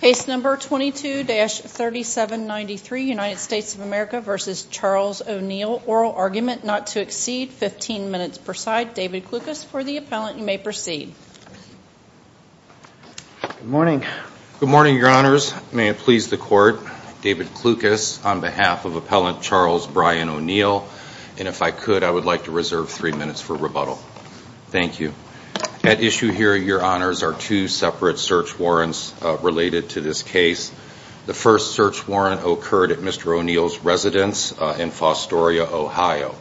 Case number 22-3793, United States of America v. Charles ONeill, oral argument not to exceed 15 minutes per side. David Klukas for the appellant. You may proceed. Good morning. Good morning, your honors. May it please the court, David Klukas on behalf of appellant Charles Brian ONeill, and if I could, I would like to reserve three minutes for rebuttal. Thank you. At issue here, your honors, are two separate search warrants related to this case. The first search warrant occurred at Mr. ONeill's residence in Fostoria, Ohio.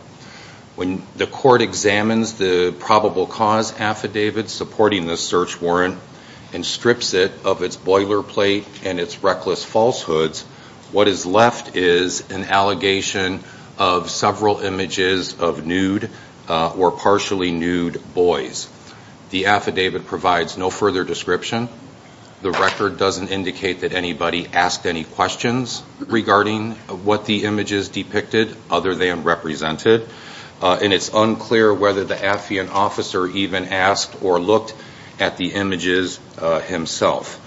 When the court examines the probable cause affidavit supporting this search warrant and strips it of its boilerplate and its reckless falsehoods, what is left is an allegation of several images of nude or partially nude boys. The affidavit provides no further description. The record doesn't indicate that anybody asked any questions regarding what the images depicted other than represented, and it's unclear whether the affiant officer even asked or looked at the images himself.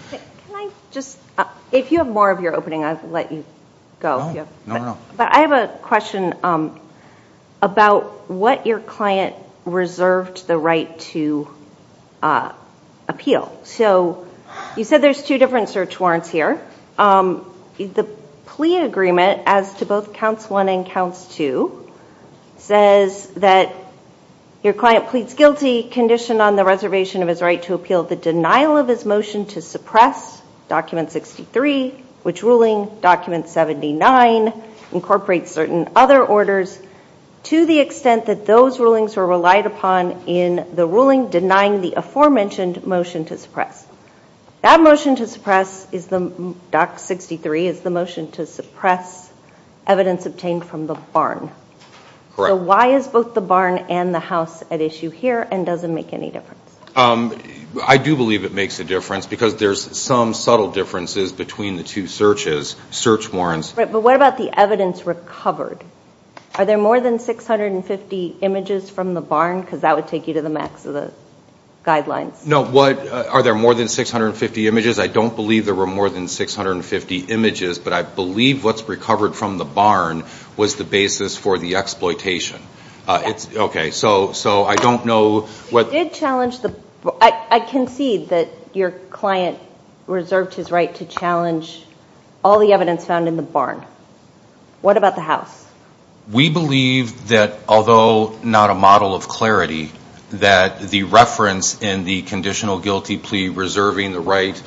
If you have more of your opening, I'll let you ask a question about what your client reserved the right to appeal. So you said there's two different search warrants here. The plea agreement as to both counts one and counts two says that your client pleads guilty, conditioned on the reservation of his right to appeal the denial of his motion to suppress document 63, which ruling document 79 incorporates certain other orders, to the extent that those rulings were relied upon in the ruling denying the aforementioned motion to suppress. That motion to suppress, doc 63, is the motion to suppress evidence obtained from the barn. So why is both the barn and the house at issue here and doesn't make any difference? I do believe it makes a difference because there's some subtle differences between the two searches, search warrants. Right, but what about the evidence recovered? Are there more than 650 images from the barn? Because that would take you to the max of the guidelines. No, what, are there more than 650 images? I don't believe there were more than 650 images, but I believe what's recovered from the barn was the basis for the exploitation. Okay, so I don't know what- I concede that your client reserved his right to challenge all the evidence found in the barn. What about the house? We believe that although not a model of clarity, that the reference in the conditional guilty plea reserving the right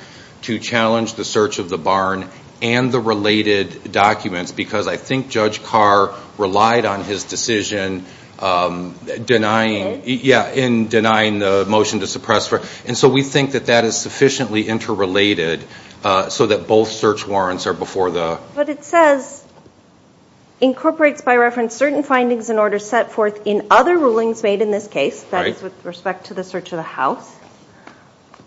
to challenge the search of the barn and the related documents, I think Judge Carr relied on his decision in denying the motion to suppress. And so we think that that is sufficiently interrelated so that both search warrants are before the- But it says, incorporates by reference certain findings and orders set forth in other rulings made in this case, that is with respect to the search of the house,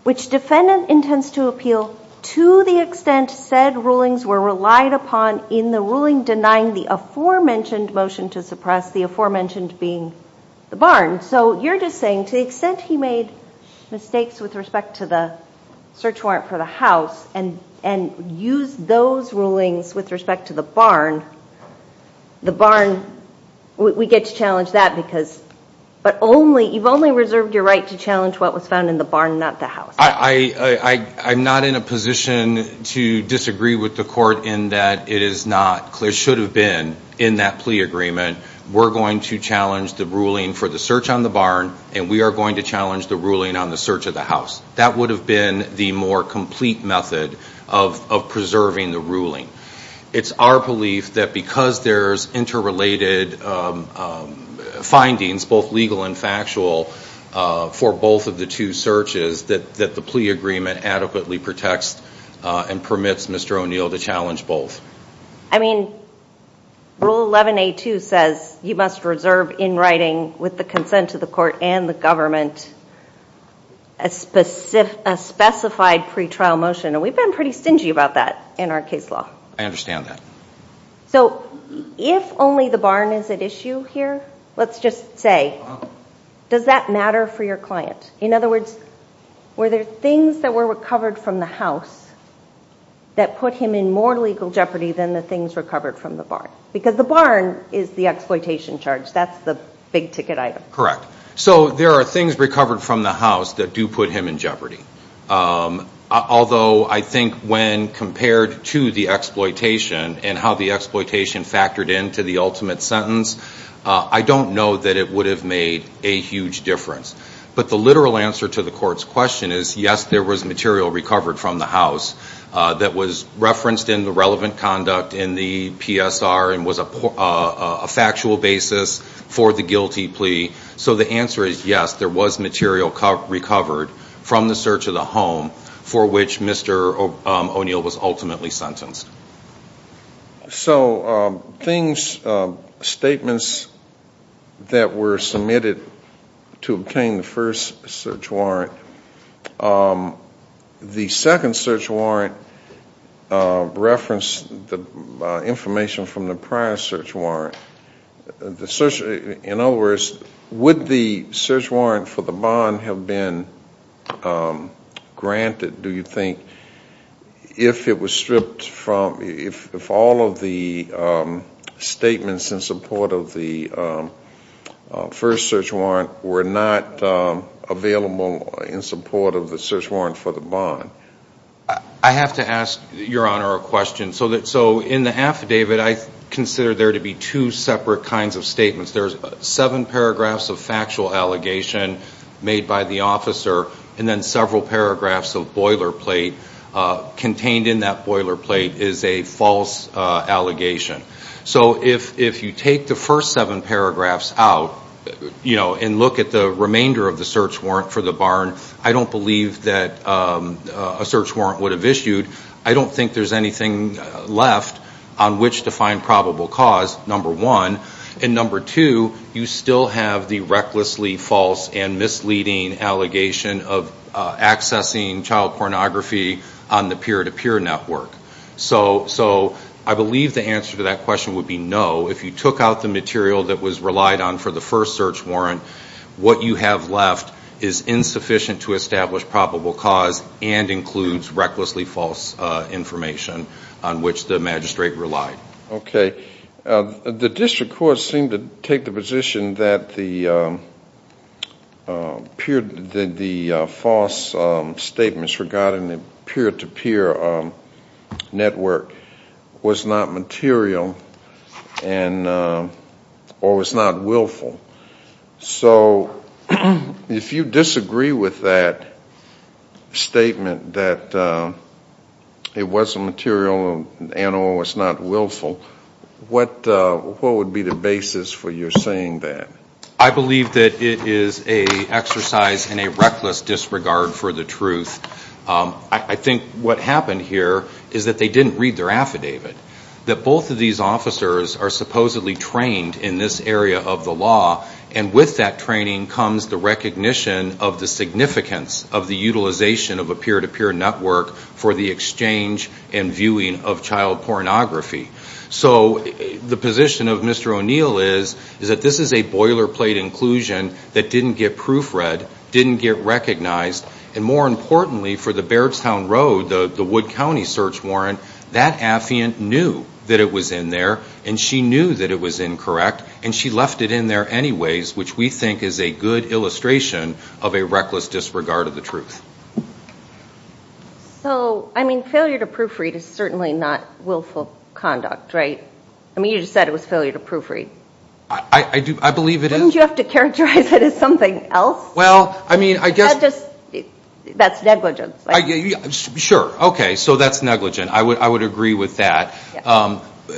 which defendant intends to appeal to the extent said rulings were relied upon in the ruling denying the aforementioned motion to suppress, the aforementioned being the barn. So you're just saying to the extent he made mistakes with respect to the search warrant for the house and used those rulings with respect to the barn, the barn, we get to challenge that because- But only, you've only reserved your right to challenge what was found in the barn, not the house. I'm not in a position to disagree with the court in that it is not, it should have been in that plea agreement, we're going to challenge the ruling for the search on the barn and we are going to challenge the ruling on the search of the house. That would have been the more complete method of preserving the ruling. It's our belief that because there's interrelated findings, both legal and factual, for both of the two searches, that there's a plea agreement adequately protects and permits Mr. O'Neill to challenge both. I mean, Rule 11A2 says you must reserve in writing with the consent of the court and the government a specified pretrial motion and we've been pretty stingy about that in our case law. I understand that. So if only the barn is at issue here, let's just say, does that matter for your client? In other words, were there things that were recovered from the house that put him in more legal jeopardy than the things recovered from the barn? Because the barn is the exploitation charge, that's the big ticket item. Correct. So there are things recovered from the house that do put him in jeopardy. Although I think when compared to the exploitation and how the exploitation factored into the ultimate sentence, I don't know that it would have made a huge difference. But the literal answer to the court's question is yes, there was material recovered from the house that was referenced in the relevant conduct in the PSR and was a factual basis for the guilty plea. So the answer is yes, there was material recovered from the search of the home for which Mr. O'Neill was ultimately sentenced. So things, statements that were submitted to obtain the first search warrant, the second search warrant referenced the information from the prior search warrant. In other words, would the search warrant for the barn have been granted, do you think, if it was stripped from, if all of the statements in support of the first search warrant were not available in support of the search warrant for the barn? I have to ask Your Honor a question. So in the affidavit I consider there to be two separate kinds of statements. There's seven paragraphs of factual allegation made by the officer and then several paragraphs of boilerplate. Contained in that boilerplate is a false allegation. So if you take the first seven paragraphs out and look at the remainder of the search warrant for the barn, I don't believe that a search warrant would have issued. I don't think there's anything left on which to find probable cause, number one. And number two, you still have the recklessly false and misleading allegation of accessing child pornography on the peer-to-peer network. So I believe the answer to that question would be no. If you took out the material that was relied on for the first search warrant, what you have left is insufficient to establish probable cause and includes recklessly false information on which the magistrate relied. Okay. The district court seemed to take the position that the false statements regarding the peer-to-peer network was not material and or was not willful. So if you disagree with that statement that it wasn't material and or was not willful, then I'm going to be very careful. What would be the basis for your saying that? I believe that it is an exercise in a reckless disregard for the truth. I think what happened here is that they didn't read their affidavit. That both of these officers are supposedly trained in this area of the law and with that training comes the recognition of the significance of the utilization of a peer-to-peer network for the exchange and viewing of child pornography. So the position of Mr. O'Neill is that this is a boilerplate inclusion that didn't get proofread, didn't get recognized, and more importantly for the Bairdstown Road, the Wood County search warrant, that affiant knew that it was in there and she knew that it was incorrect and she left it in there anyways, which we think is a good illustration of a reckless disregard of the truth. So I mean failure to proofread is certainly not willful conduct, right? I mean you just said it was failure to proofread. I believe it is. Wouldn't you have to characterize it as something else? That's negligence. Sure, okay, so that's negligent. I would agree with that.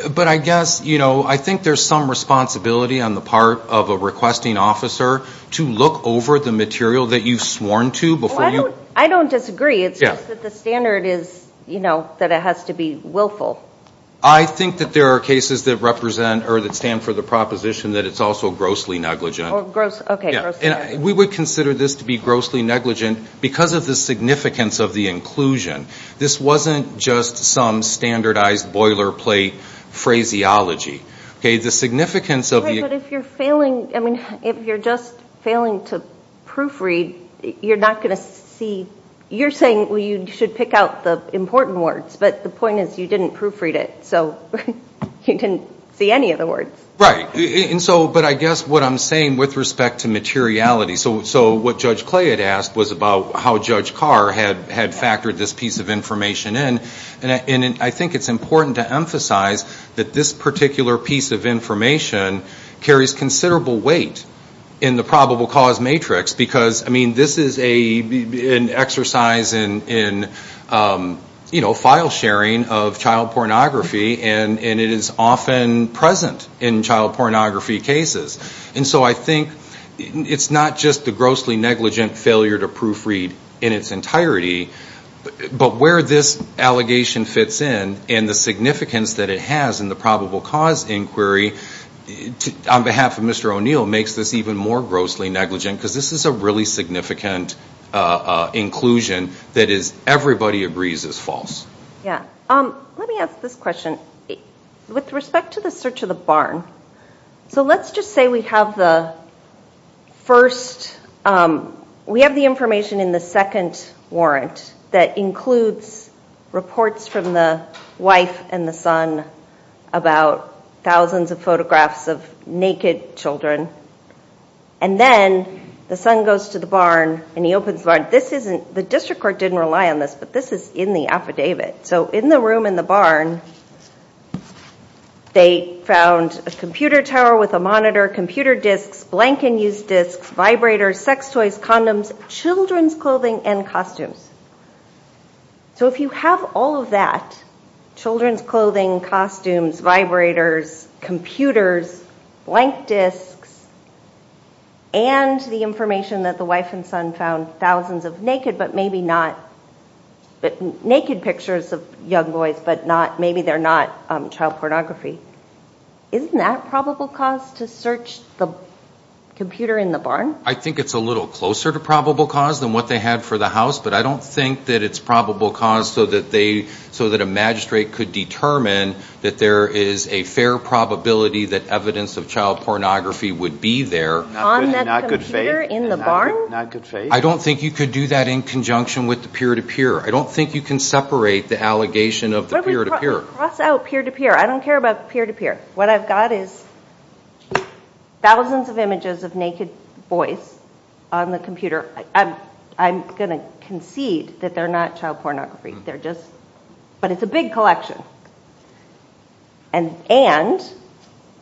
But I guess, you know, I think there's some responsibility on the part of a requesting officer to look over the material that you've sworn to before you... I don't disagree. It's just that the standard is, you know, that it has to be willful. I think that there are cases that represent or that stand for the proposition that it's also grossly negligent. We would consider this to be grossly negligent because of the significance of the inclusion. This wasn't just some standardized boilerplate phraseology. Okay, the significance of the... But if you're failing, I mean if you're just failing to proofread, you're not going to see, you're saying you should pick out the important words, but the point is you didn't proofread it, so you didn't see any of the words. Right, and so, but I guess what I'm saying with respect to materiality, so what Judge Clay had asked was about how Judge Carr had factored this piece of information in, and I think it's important to emphasize that this particular piece of information carries considerable weight in the probable cause matrix because, I mean, this is an exercise in file sharing of child pornography and it is often present in child pornography cases. And so I think it's not just the grossly negligent failure to proofread in its entirety, but where this allegation fits in and the significance that it has in the probable cause inquiry, on behalf of Mr. O'Neill, makes this even more grossly negligent because this is a really significant inclusion that everybody agrees is false. Yeah, let me ask this question. With respect to the search of the barn, so let's just say we have the first, we have the information in the second warrant that includes the search includes reports from the wife and the son about thousands of photographs of naked children, and then the son goes to the barn and he opens the barn. This isn't, the district court didn't rely on this, but this is in the affidavit. So in the room in the barn, they found a computer tower with a monitor, computer disks, blank unused disks, vibrators, sex toys, condoms, children's clothing and costumes. So if you have all of that, children's clothing, costumes, vibrators, computers, blank disks, and the information that the wife and son found, thousands of naked, but maybe not, naked pictures of young boys, but not, maybe they're not child pornography, isn't that probable cause to search the computer in the barn? I think it's a little closer to probable cause than what they had for the house, but I don't think that it's probable cause so that they, so that a magistrate could determine that there is a fair probability that evidence of child pornography would be there. On that computer in the barn? Not good faith. I don't think you could do that in conjunction with the peer-to-peer. I don't think you can separate the allegation of the peer-to-peer. But we cross out peer-to-peer. I don't care about peer-to-peer. What I've got is thousands of images of naked boys on the computer. I'm going to concede that they're not child pornography. They're just, but it's a big collection. And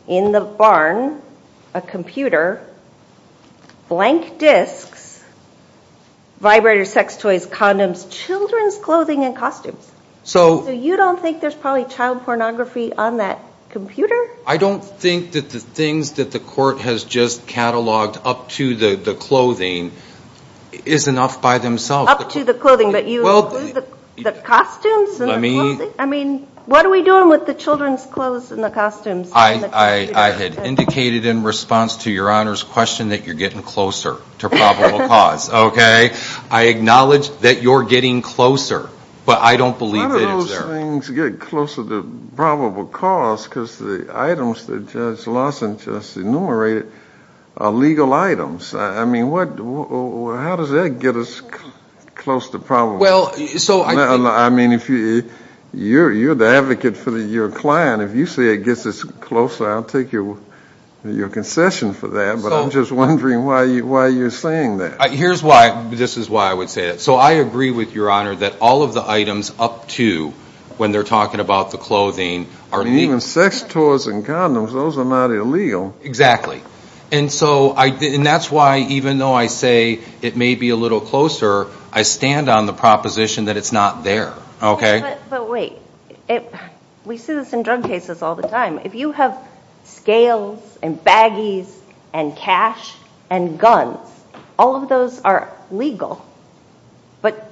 in the barn, a computer, blank disks, vibrators, sex toys, condoms, children's clothing and costumes. So you don't think there's probably child pornography on that computer? I don't think that the things that the court has just cataloged up to the clothing is enough by themselves. Up to the clothing, but you include the costumes and the clothing? I mean, what are we doing with the children's clothes and the costumes? I had indicated in response to Your Honor's question that you're getting closer to probable cause, okay? I acknowledge that you're getting closer, but I don't believe that it's there. How do things get closer to probable cause? Because the items that Judge Lawson just enumerated are legal items. I mean, how does that get us close to probable? I mean, you're the advocate for your client. If you say it gets us closer, I'll take your concession for that, but I'm just wondering why you're saying that. Here's why. This is why I would say that. So I agree with Your Honor that all of the items up to, when they're talking about the clothing, are legal. I mean, even sex toys and condoms, those are not illegal. Exactly. And that's why, even though I say it may be a little closer, I stand on the proposition that it's not there, okay? But wait. We see this in drug cases all the time. If you have scales and baggies and cash and guns, all of those are legal. But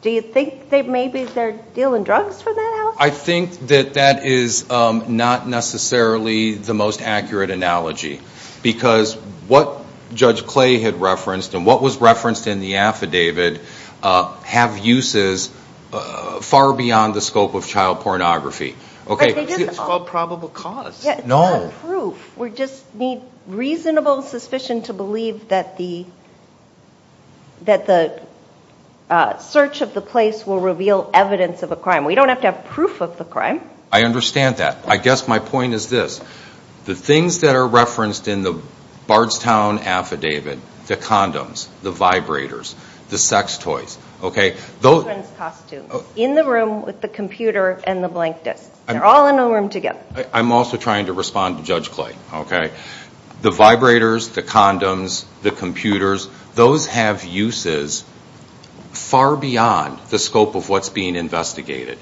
do you think maybe they're dealing drugs for that outcome? I think that that is not necessarily the most accurate analogy, because what Judge Clay had referenced and what was referenced in the affidavit have uses far beyond the scope of child pornography. But it isn't. It's called probable cause. It's not proof. We just need reasonable suspicion to believe that the search of the place will reveal evidence of a crime. We don't have to have proof of the crime. I understand that. I guess my point is this. The things that are referenced in the Bardstown affidavit, the condoms, the vibrators, the sex toys, okay? Children's costumes. In the room with the computer and the blank disc. They're all in the room together. I'm also trying to respond to Judge Clay, okay? The vibrators, the condoms, the computers. Those have uses far beyond the scope of what's being investigated.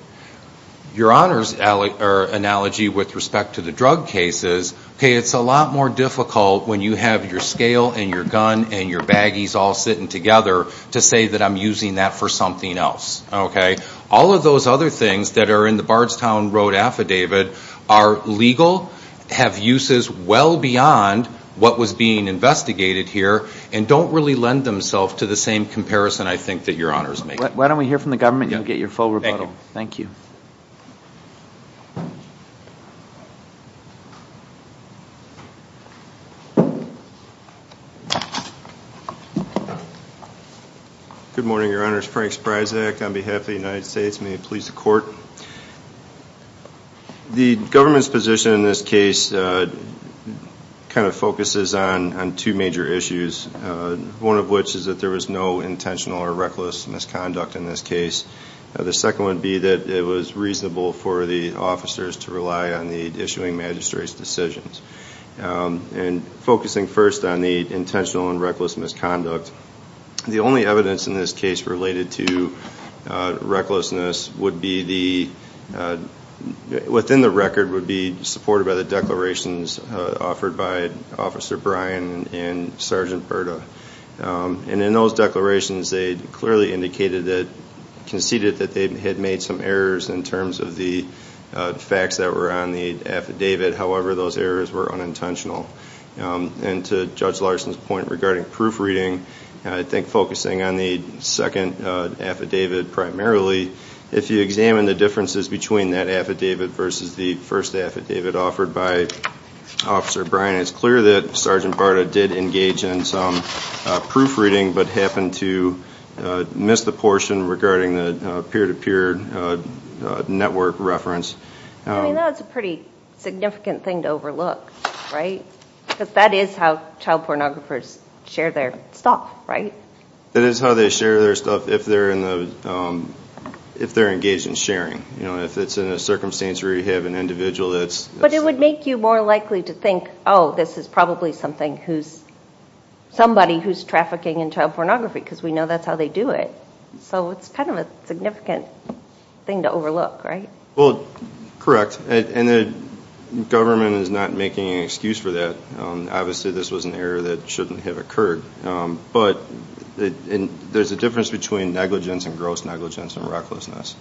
Your Honor's analogy with respect to the drug cases, okay, it's a lot more difficult when you have your scale and your gun and your baggies all sitting together to say that I'm using that for something else, okay? All of those other things that are in the Bardstown Road affidavit are legal, have uses well beyond what was being investigated here, and don't really lend themselves to the same comparison I think that Your Honor's making. Why don't we hear from the government and get your full rebuttal. Thank you. Good morning, Your Honor. It's Frank Spryzak on behalf of the United States. May it please the Court. The government's position in this case kind of focuses on two major issues, one of which is that there was no intentional or reckless misconduct in this case. The second would be that it was reasonable for the officers to rely on the issuing magistrate's decisions. And focusing first on the intentional and reckless misconduct, the only evidence in this case related to recklessness would be the, within the record would be supported by the declarations offered by Officer Bryan and Sergeant Berta. And in those declarations they clearly indicated that, conceded that they had made some errors in terms of the facts that were on the affidavit. However, those errors were unintentional. And to Judge Larson's point regarding proofreading, I think focusing on the second affidavit primarily, if you examine the differences between that affidavit versus the first affidavit offered by Officer Bryan, it's clear that Sergeant Berta did engage in some proofreading but happened to miss the portion regarding the peer-to-peer network reference. I mean, that's a pretty significant thing to overlook, right? Because that is how child pornographers share their stuff, right? That is how they share their stuff if they're engaged in sharing. If it's in a circumstance where you have an individual that's... But it would make you more likely to think, oh, this is probably somebody who's trafficking in child pornography because we know that's how they do it. So it's kind of a significant thing to overlook, right? Well, correct. And the government is not making an excuse for that. Obviously this was an error that shouldn't have occurred. But there's a difference between negligence and gross negligence and recklessness.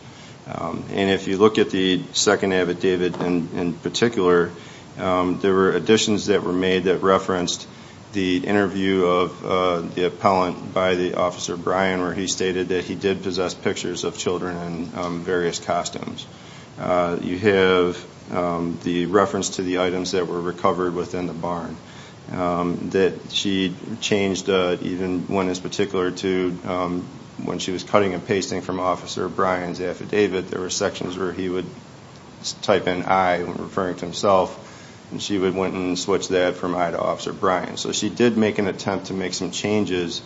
And if you look at the second affidavit in particular, there were additions that were made that referenced the interview of the appellant by the Officer Bryan where he stated that he did possess pictures of children in various costumes. You have the reference to the items that were recovered within the barn that she changed even one in particular to when she was cutting and pasting from Officer Bryan's affidavit, there were sections where he would type in I when referring to himself, and she would go and switch that from I to Officer Bryan. So she did make an attempt to make some changes.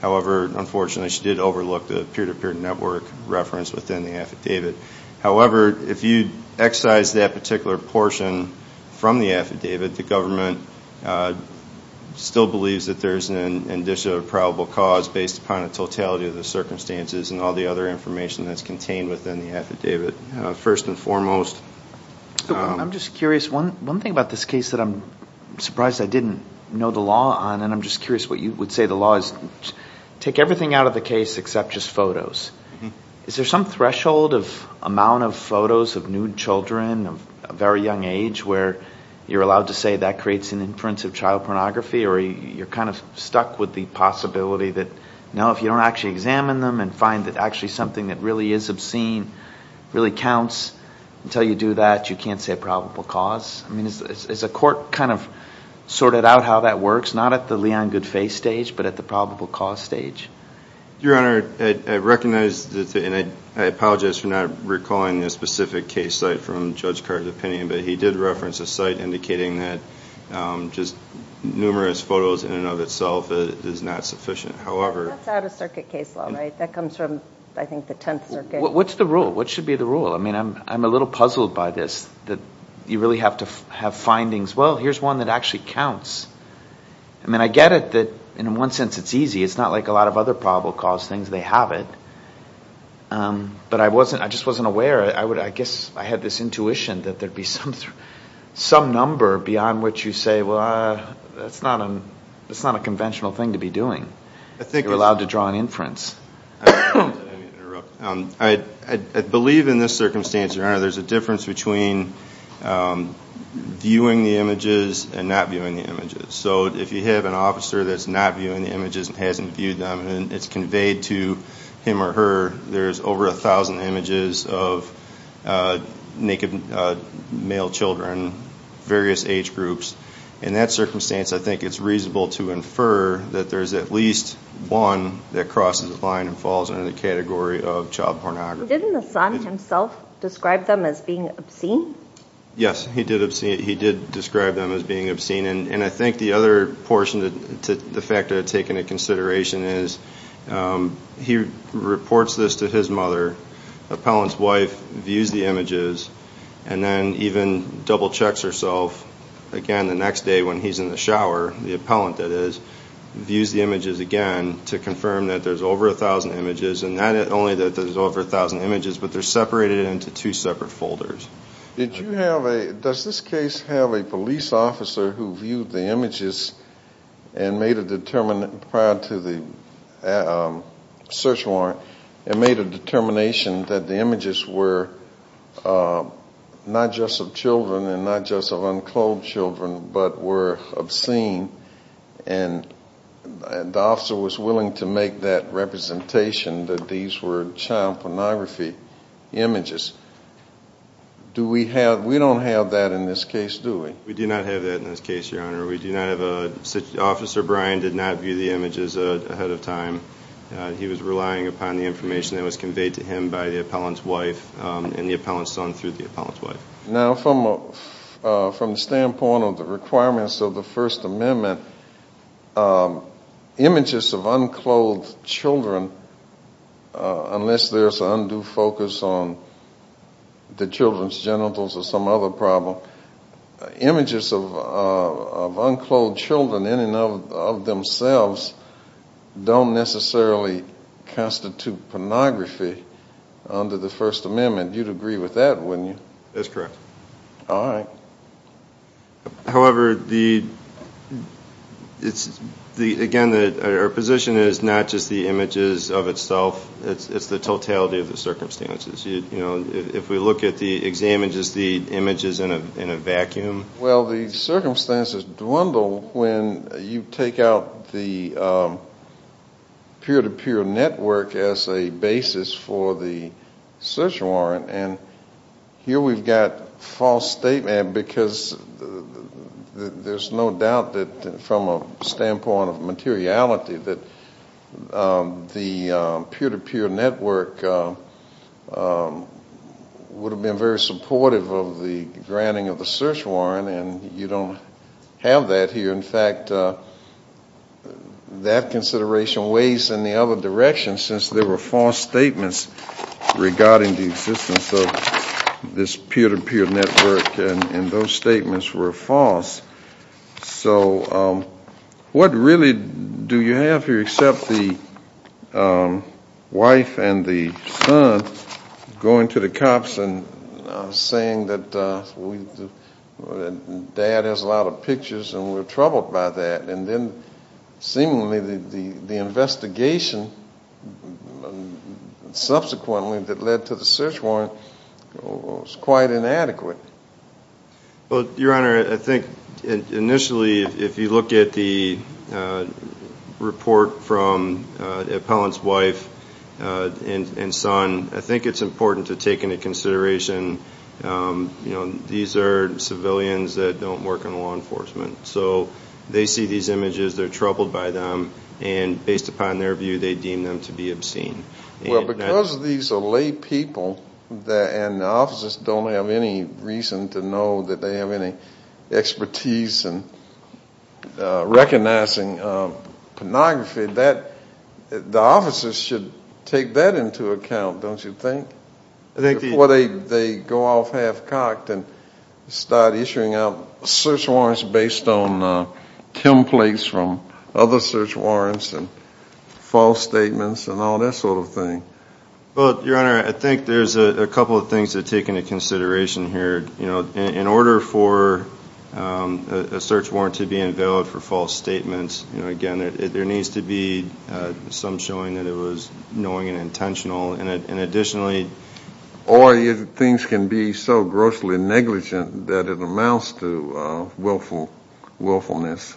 However, unfortunately, she did overlook the peer-to-peer network reference within the affidavit. However, if you excise that particular portion from the affidavit, the government still believes that there's an addition of probable cause based upon the totality of the circumstances and all the other information that's contained within the affidavit, first and foremost. I'm just curious, one thing about this case that I'm surprised I didn't know the law on, and I'm just curious what you would say the law is, take everything out of the case except just photos. Is there some threshold of amount of photos of nude children of a very young age where you're allowed to say that creates an inference of child pornography or you're kind of stuck with the possibility that, no, if you don't actually examine them and find that actually something that really is obscene really counts, until you do that, you can't say probable cause? I mean, is the court kind of sorted out how that works, not at the Leon Goodfay stage, but at the probable cause stage? Your Honor, I recognize that, and I apologize for not recalling the specific case site from Judge Carter's opinion, but he did reference a site indicating that just numerous photos in and of itself is not sufficient. That's out-of-circuit case law, right? That comes from, I think, the Tenth Circuit. What's the rule? What should be the rule? I mean, I'm a little puzzled by this, that you really have to have findings. Well, here's one that actually counts. I mean, I get it that in one sense it's easy. It's not like a lot of other probable cause things. They have it, but I just wasn't aware. I guess I had this intuition that there'd be some number beyond which you say, well, that's not a conventional thing to be doing. You're allowed to draw an inference. Let me interrupt. I believe in this circumstance, Your Honor, there's a difference between viewing the images and not viewing the images. So if you have an officer that's not viewing the images and hasn't viewed them, and it's conveyed to him or her, there's over a thousand images of naked male children, various age groups. In that circumstance, I think it's reasonable to infer that there's at least one that crosses the line and falls under the category of child pornography. Didn't the son himself describe them as being obscene? Yes, he did describe them as being obscene. And I think the other portion to the fact that I take into consideration is he reports this to his mother, the appellant's wife views the images, and then even double-checks herself, again the next day when he's in the shower, the appellant that is, views the images again to confirm that there's over a thousand images. And not only that there's over a thousand images, but they're separated into two separate folders. Does this case have a police officer who viewed the images and made a determination prior to the search warrant, and made a determination that the images were not just of children and not just of unclothed children, but were obscene, and the officer was willing to make that representation that these were child pornography images. Do we have, we don't have that in this case, do we? We do not have that in this case, Your Honor. We do not have a, Officer Bryan did not view the images ahead of time. He was relying upon the information that was conveyed to him by the appellant's wife and the appellant's son through the appellant's wife. Now from the standpoint of the requirements of the First Amendment, images of unclothed children, unless there's an undue focus on the children's genitals or some other problem, images of unclothed children in and of themselves don't necessarily constitute pornography under the First Amendment. You'd agree with that, wouldn't you? That's correct. All right. However, the, it's, again, our position is not just the images of itself, it's the totality of the circumstances. You know, if we look at the exam and just the images in a vacuum. Well, the circumstances dwindle when you take out the peer-to-peer network as a basis for the search warrant, and here we've got false statement because there's no doubt that from a standpoint of materiality that the peer-to-peer network would have been very supportive of the granting of the search warrant, and you don't have that here. In fact, that consideration waves in the other direction since there were false statements regarding the existence of this peer-to-peer network, and those statements were false. So what really do you have here except the wife and the son going to the cops and saying that we, that dad has a lot of pictures and we're troubled by that, and then seemingly the investigation subsequently that led to the search warrant was quite inadequate? Well, Your Honor, I think initially if you look at the report from the appellant's wife and son, I think it's important to take into consideration, you know, these are civilians that don't work in law enforcement, so they see these images, they're troubled by them, and based upon their view, they deem them to be obscene. Well, because these are lay people and the officers don't have any reason to know that they have any expertise in recognizing pornography, the officers should take that into account, don't you think? I think the... Before they go off half-cocked and start issuing out search warrants based on templates from other search warrants and false statements and all that sort of thing. Well, Your Honor, I think there's a couple of things to take into consideration here. In order for a search warrant to be invalid for false statements, again, there needs to be some showing that it was knowing and intentional, and additionally... Or things can be so grossly negligent that it amounts to willfulness.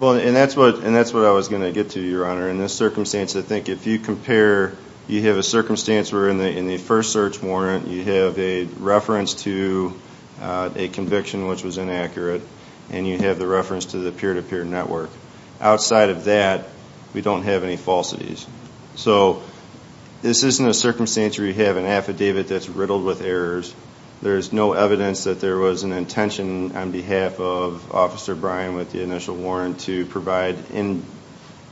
And that's what I was going to get to, Your Honor. In this circumstance, I think if you compare, you have a circumstance where in the first search warrant, you have a reference to a conviction which was inaccurate, and you have the reference to the peer-to-peer network. Outside of that, we don't have any falsities. So this isn't a circumstance where you have an affidavit that's riddled with errors. There's no evidence that there was an intention on behalf of Officer Bryan with the initial warrant to provide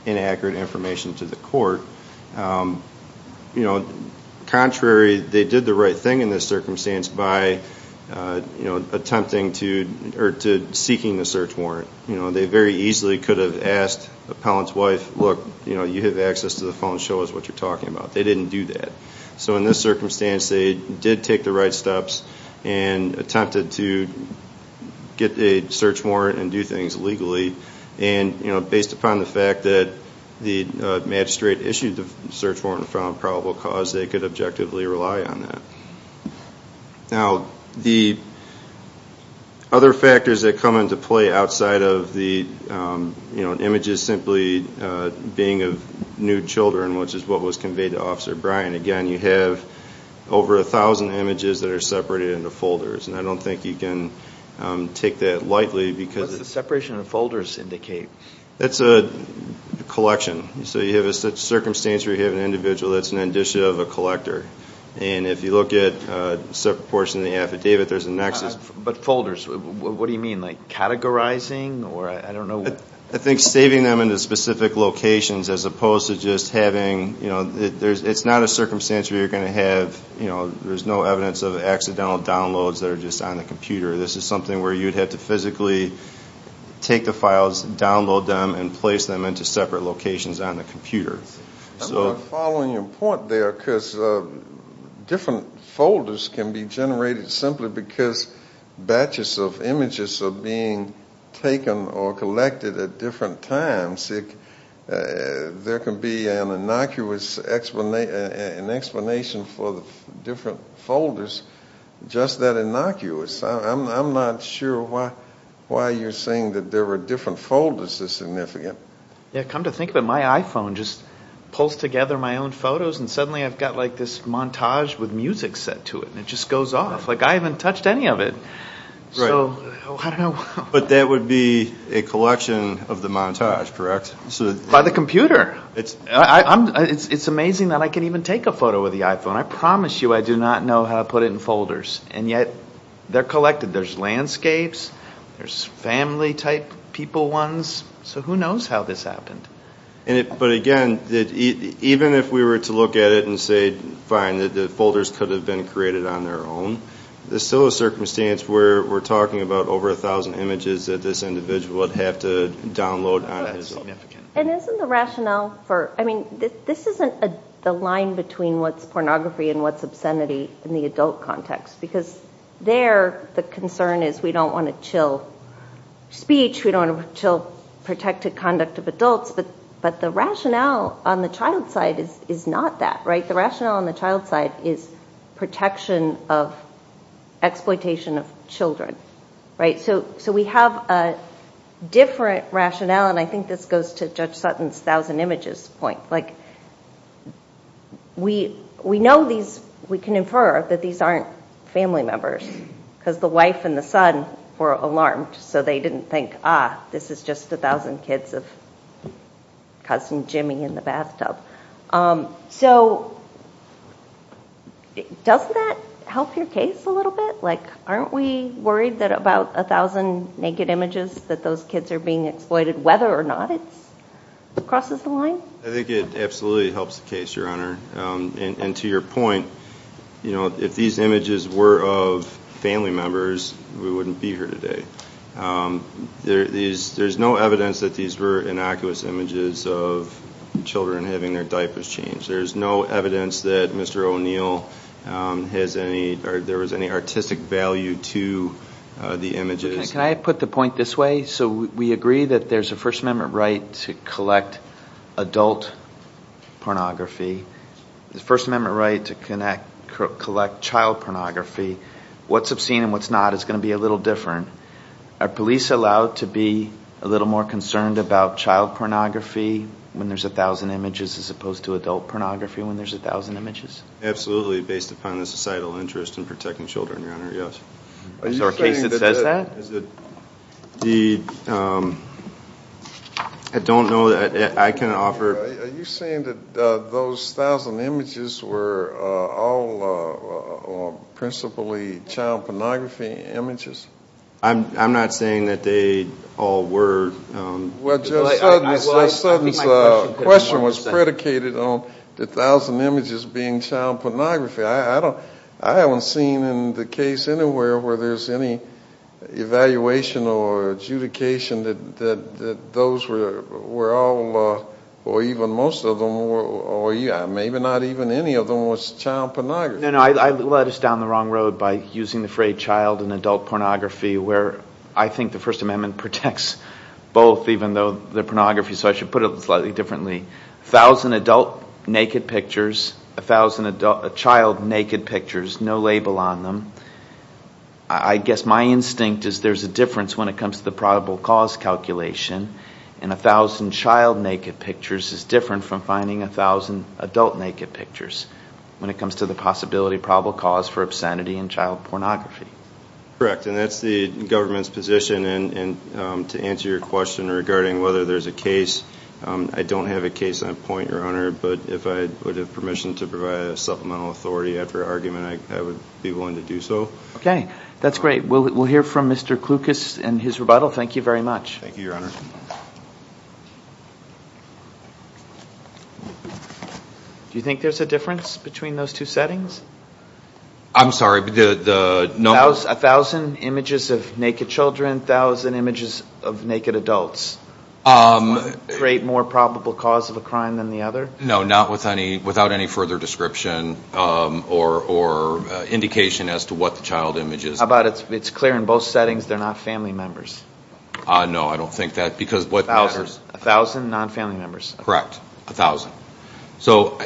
inaccurate information to the court. Contrary, they did the right thing in this circumstance by attempting to... Or to seeking the search warrant. They very easily could have asked the appellant's wife, look, you have access to the phone, show us what you're talking about. They didn't do that. So in this circumstance, they did take the right steps and attempted to get a search warrant and do things legally. And based upon the fact that the magistrate issued the search warrant in front of probable cause, they could objectively rely on that. Now, the other factors that come into play outside of the images simply being of nude children, which is what was conveyed to Officer Bryan, again, you have over a thousand images that are separated into folders, and I don't think you can take that lightly because... What does the separation of folders indicate? That's a collection. So you have a circumstance where you have an individual that's an indicia of a collector. And if you look at a separate portion of the affidavit, there's a nexus... But folders, what do you mean? Like categorizing? Or I don't know... I think saving them into specific locations as opposed to just having... It's not a circumstance where you're going to have... There's no evidence of accidental downloads that are just on the computer. This is something where you'd have to physically take the files, download them, and place them into separate locations on the computer. I'm following your point there, because different folders can be generated simply because batches of images are being taken or collected at different times. There can be an innocuous explanation for the different folders just that innocuous. I'm not sure why you're saying that there were different folders as significant. Yeah, come to think of it, my iPhone just pulls together my own photos and suddenly I've got like this montage with music set to it, and it just goes off. Like I haven't touched any of it. So, I don't know. But that would be a collection of the montage, correct? By the computer. It's amazing that I can even take a photo with the iPhone. I promise you I do not know how to put it in folders. And yet, they're collected. There's landscapes. There's family type people ones. So, who knows how this happened? But again, even if we were to look at it and say, fine, that the folders could have been created on their own, there's still a circumstance where we're talking about over a thousand images that this individual would have to download on his own. And isn't the rationale for, I mean, this isn't the line between what's pornography and what's obscenity in the adult context. Because there, the concern is we don't want to chill speech. We don't want to chill protected conduct of adults. But the rationale on the child's side is not that, right? The rationale on the child's side is protection of exploitation of children, right? So, we have a different rationale, and I think this goes to Judge Sutton's thousand images point. Like, we know these, we can infer that these aren't family members. Because the wife and the son were alarmed, so they didn't think, ah, this is just a thousand kids of cousin Jimmy in the bathtub. So, doesn't that help your case a little bit? Like, aren't we worried that about a thousand naked images that those kids are being exploited, whether or not it crosses the line? I think it absolutely helps the case, Your Honor. And to your point, you know, if these images were of family members, we wouldn't be here today. There's no evidence that these were innocuous images of children having their diapers changed. There's no evidence that Mr. O'Neill has any, or there was any artistic value to the images. Can I put the point this way? So, we agree that there's a First Amendment right to collect adult pornography. The First Amendment right to collect child pornography, what's obscene and what's not is going to be a little different. Are police allowed to be a little more concerned about child pornography when there's a thousand images as opposed to adult pornography when there's a thousand images? Absolutely, based upon the societal interest in protecting children, Your Honor, yes. Is there a case that says that? The, I don't know that I can offer. Are you saying that those thousand images were all principally child pornography images? I'm not saying that they all were. Well, Judge Sutton's question was predicated on the thousand images being child pornography. I haven't seen in the case anywhere where there's any evaluation or adjudication that those were all, or even most of them, or maybe not even any of them was child pornography. No, no, I led us down the wrong road by using the phrase child and adult pornography where I think the First Amendment protects both even though they're pornography. So, I should put it slightly differently. A thousand adult naked pictures, a thousand child naked pictures, no label on them. I guess my instinct is there's a difference when it comes to the probable cause calculation and a thousand child naked pictures is different from finding a thousand adult naked pictures when it comes to the possibility of probable cause for obscenity and child pornography. Correct, and that's the government's position and to answer your question regarding whether there's a case. I don't have a case on point, Your Honor, but if I would have permission to provide a supplemental authority after argument, I would be willing to do so. Okay, that's great. We'll hear from Mr. Klukas and his rebuttal. Thank you very much. Thank you, Your Honor. Do you think there's a difference between those two settings? I'm sorry, the number? A thousand images of naked children, a thousand images of naked adults. Does one create more probable cause of a crime than the other? No, not with any, without any further description or indication as to what the child image is. How about it's clear in both settings they're not family members? No, I don't think that, because what matters... A thousand non-family members. Correct, a thousand. So,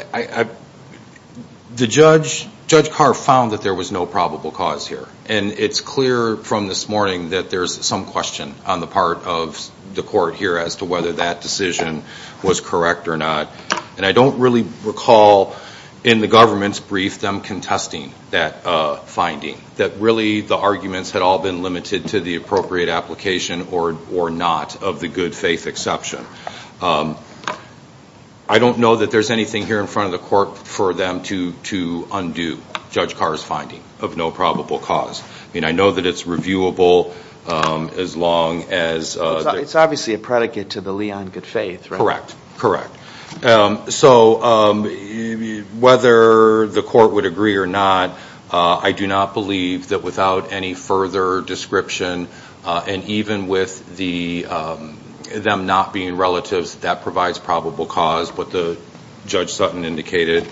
Judge Carr found that there was no probable cause here and it's clear from this morning that there's some question on the part of the court here as to whether that decision was correct or not. And I don't really recall in the government's brief them contesting that finding, that really the arguments had all been limited to the appropriate application or not of the good faith exception. I don't know that there's anything here in front of the court for them to undo Judge Carr's finding of no probable cause. I mean, I know that it's reviewable as long as... It's obviously a predicate to the Leon good faith, right? Correct, correct. So, whether the court would agree or not, I do not believe that without any further description and even with them not being relatives, that provides probable cause, what the Judge Sutton indicated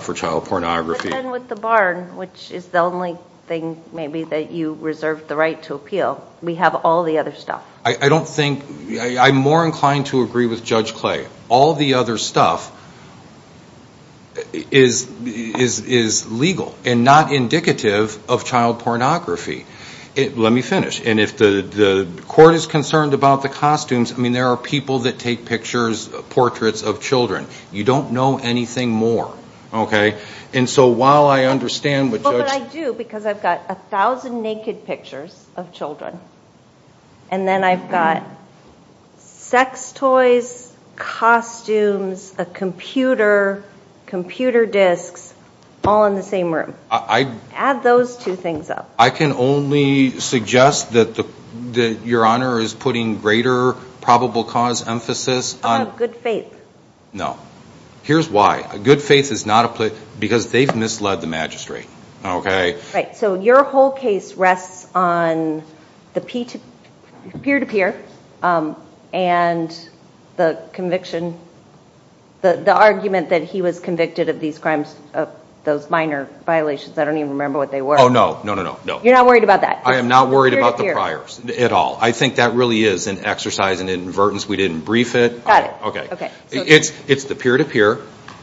for child pornography. And with the barn, which is the only thing maybe that you reserved the right to appeal, we have all the other stuff. I don't think... I'm more inclined to agree with Judge Clay. All the other stuff is legal and not indicative of child pornography. Let me finish. And if the court is concerned about the costumes, I mean, there are people that take pictures, portraits of children. You don't know anything more, okay? And so, while I understand what Judge... Well, but I do because I've got a thousand naked pictures of children. And then I've got sex toys, costumes, a computer, computer disks, all in the same room. I... Add those two things up. I can only suggest that Your Honor is putting greater probable cause emphasis on... Good faith. No. Here's why. Good faith is not a place... Because they've misled the magistrate, okay? Right. So, your whole case rests on the peer-to-peer and the conviction, the argument that he was convicted of these crimes, those minor violations. I don't even remember what they were. Oh, no. No, no, no. No. You're not worried about that? I am not worried about the priors at all. I think that really is an exercise in inadvertence. We didn't brief it. Got it. Okay. It's the peer-to-peer.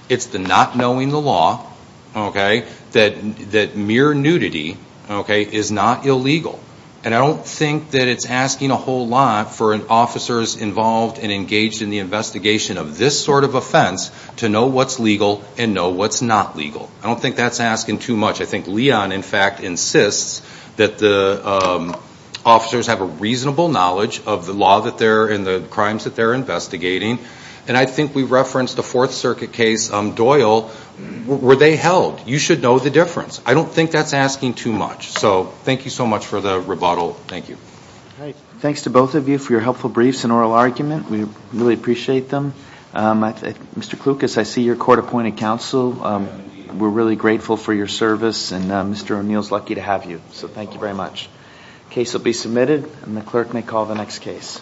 It's the not knowing the law, okay? That mere nudity, okay, is not illegal. And I don't think that it's asking a whole lot for an officer's involved and engaged in the investigation of this sort of offense to know what's legal and know what's not legal. I don't think that's asking too much. I think Leon, in fact, insists that the officers have a reasonable knowledge of the law that they're in, the crimes that they're investigating. And I think we referenced the Fourth Circuit case, Doyle. Were they held? You should know the difference. I don't think that's asking too much. So, thank you so much for the rebuttal. Thank you. Great. Thanks to both of you for your helpful briefs and oral argument. We really appreciate them. Mr. Klukas, I see you're court-appointed counsel. We're really grateful for your service, and Mr. O'Neill's lucky to have you. So, thank you very much. Case will be submitted, and the clerk may call the next case.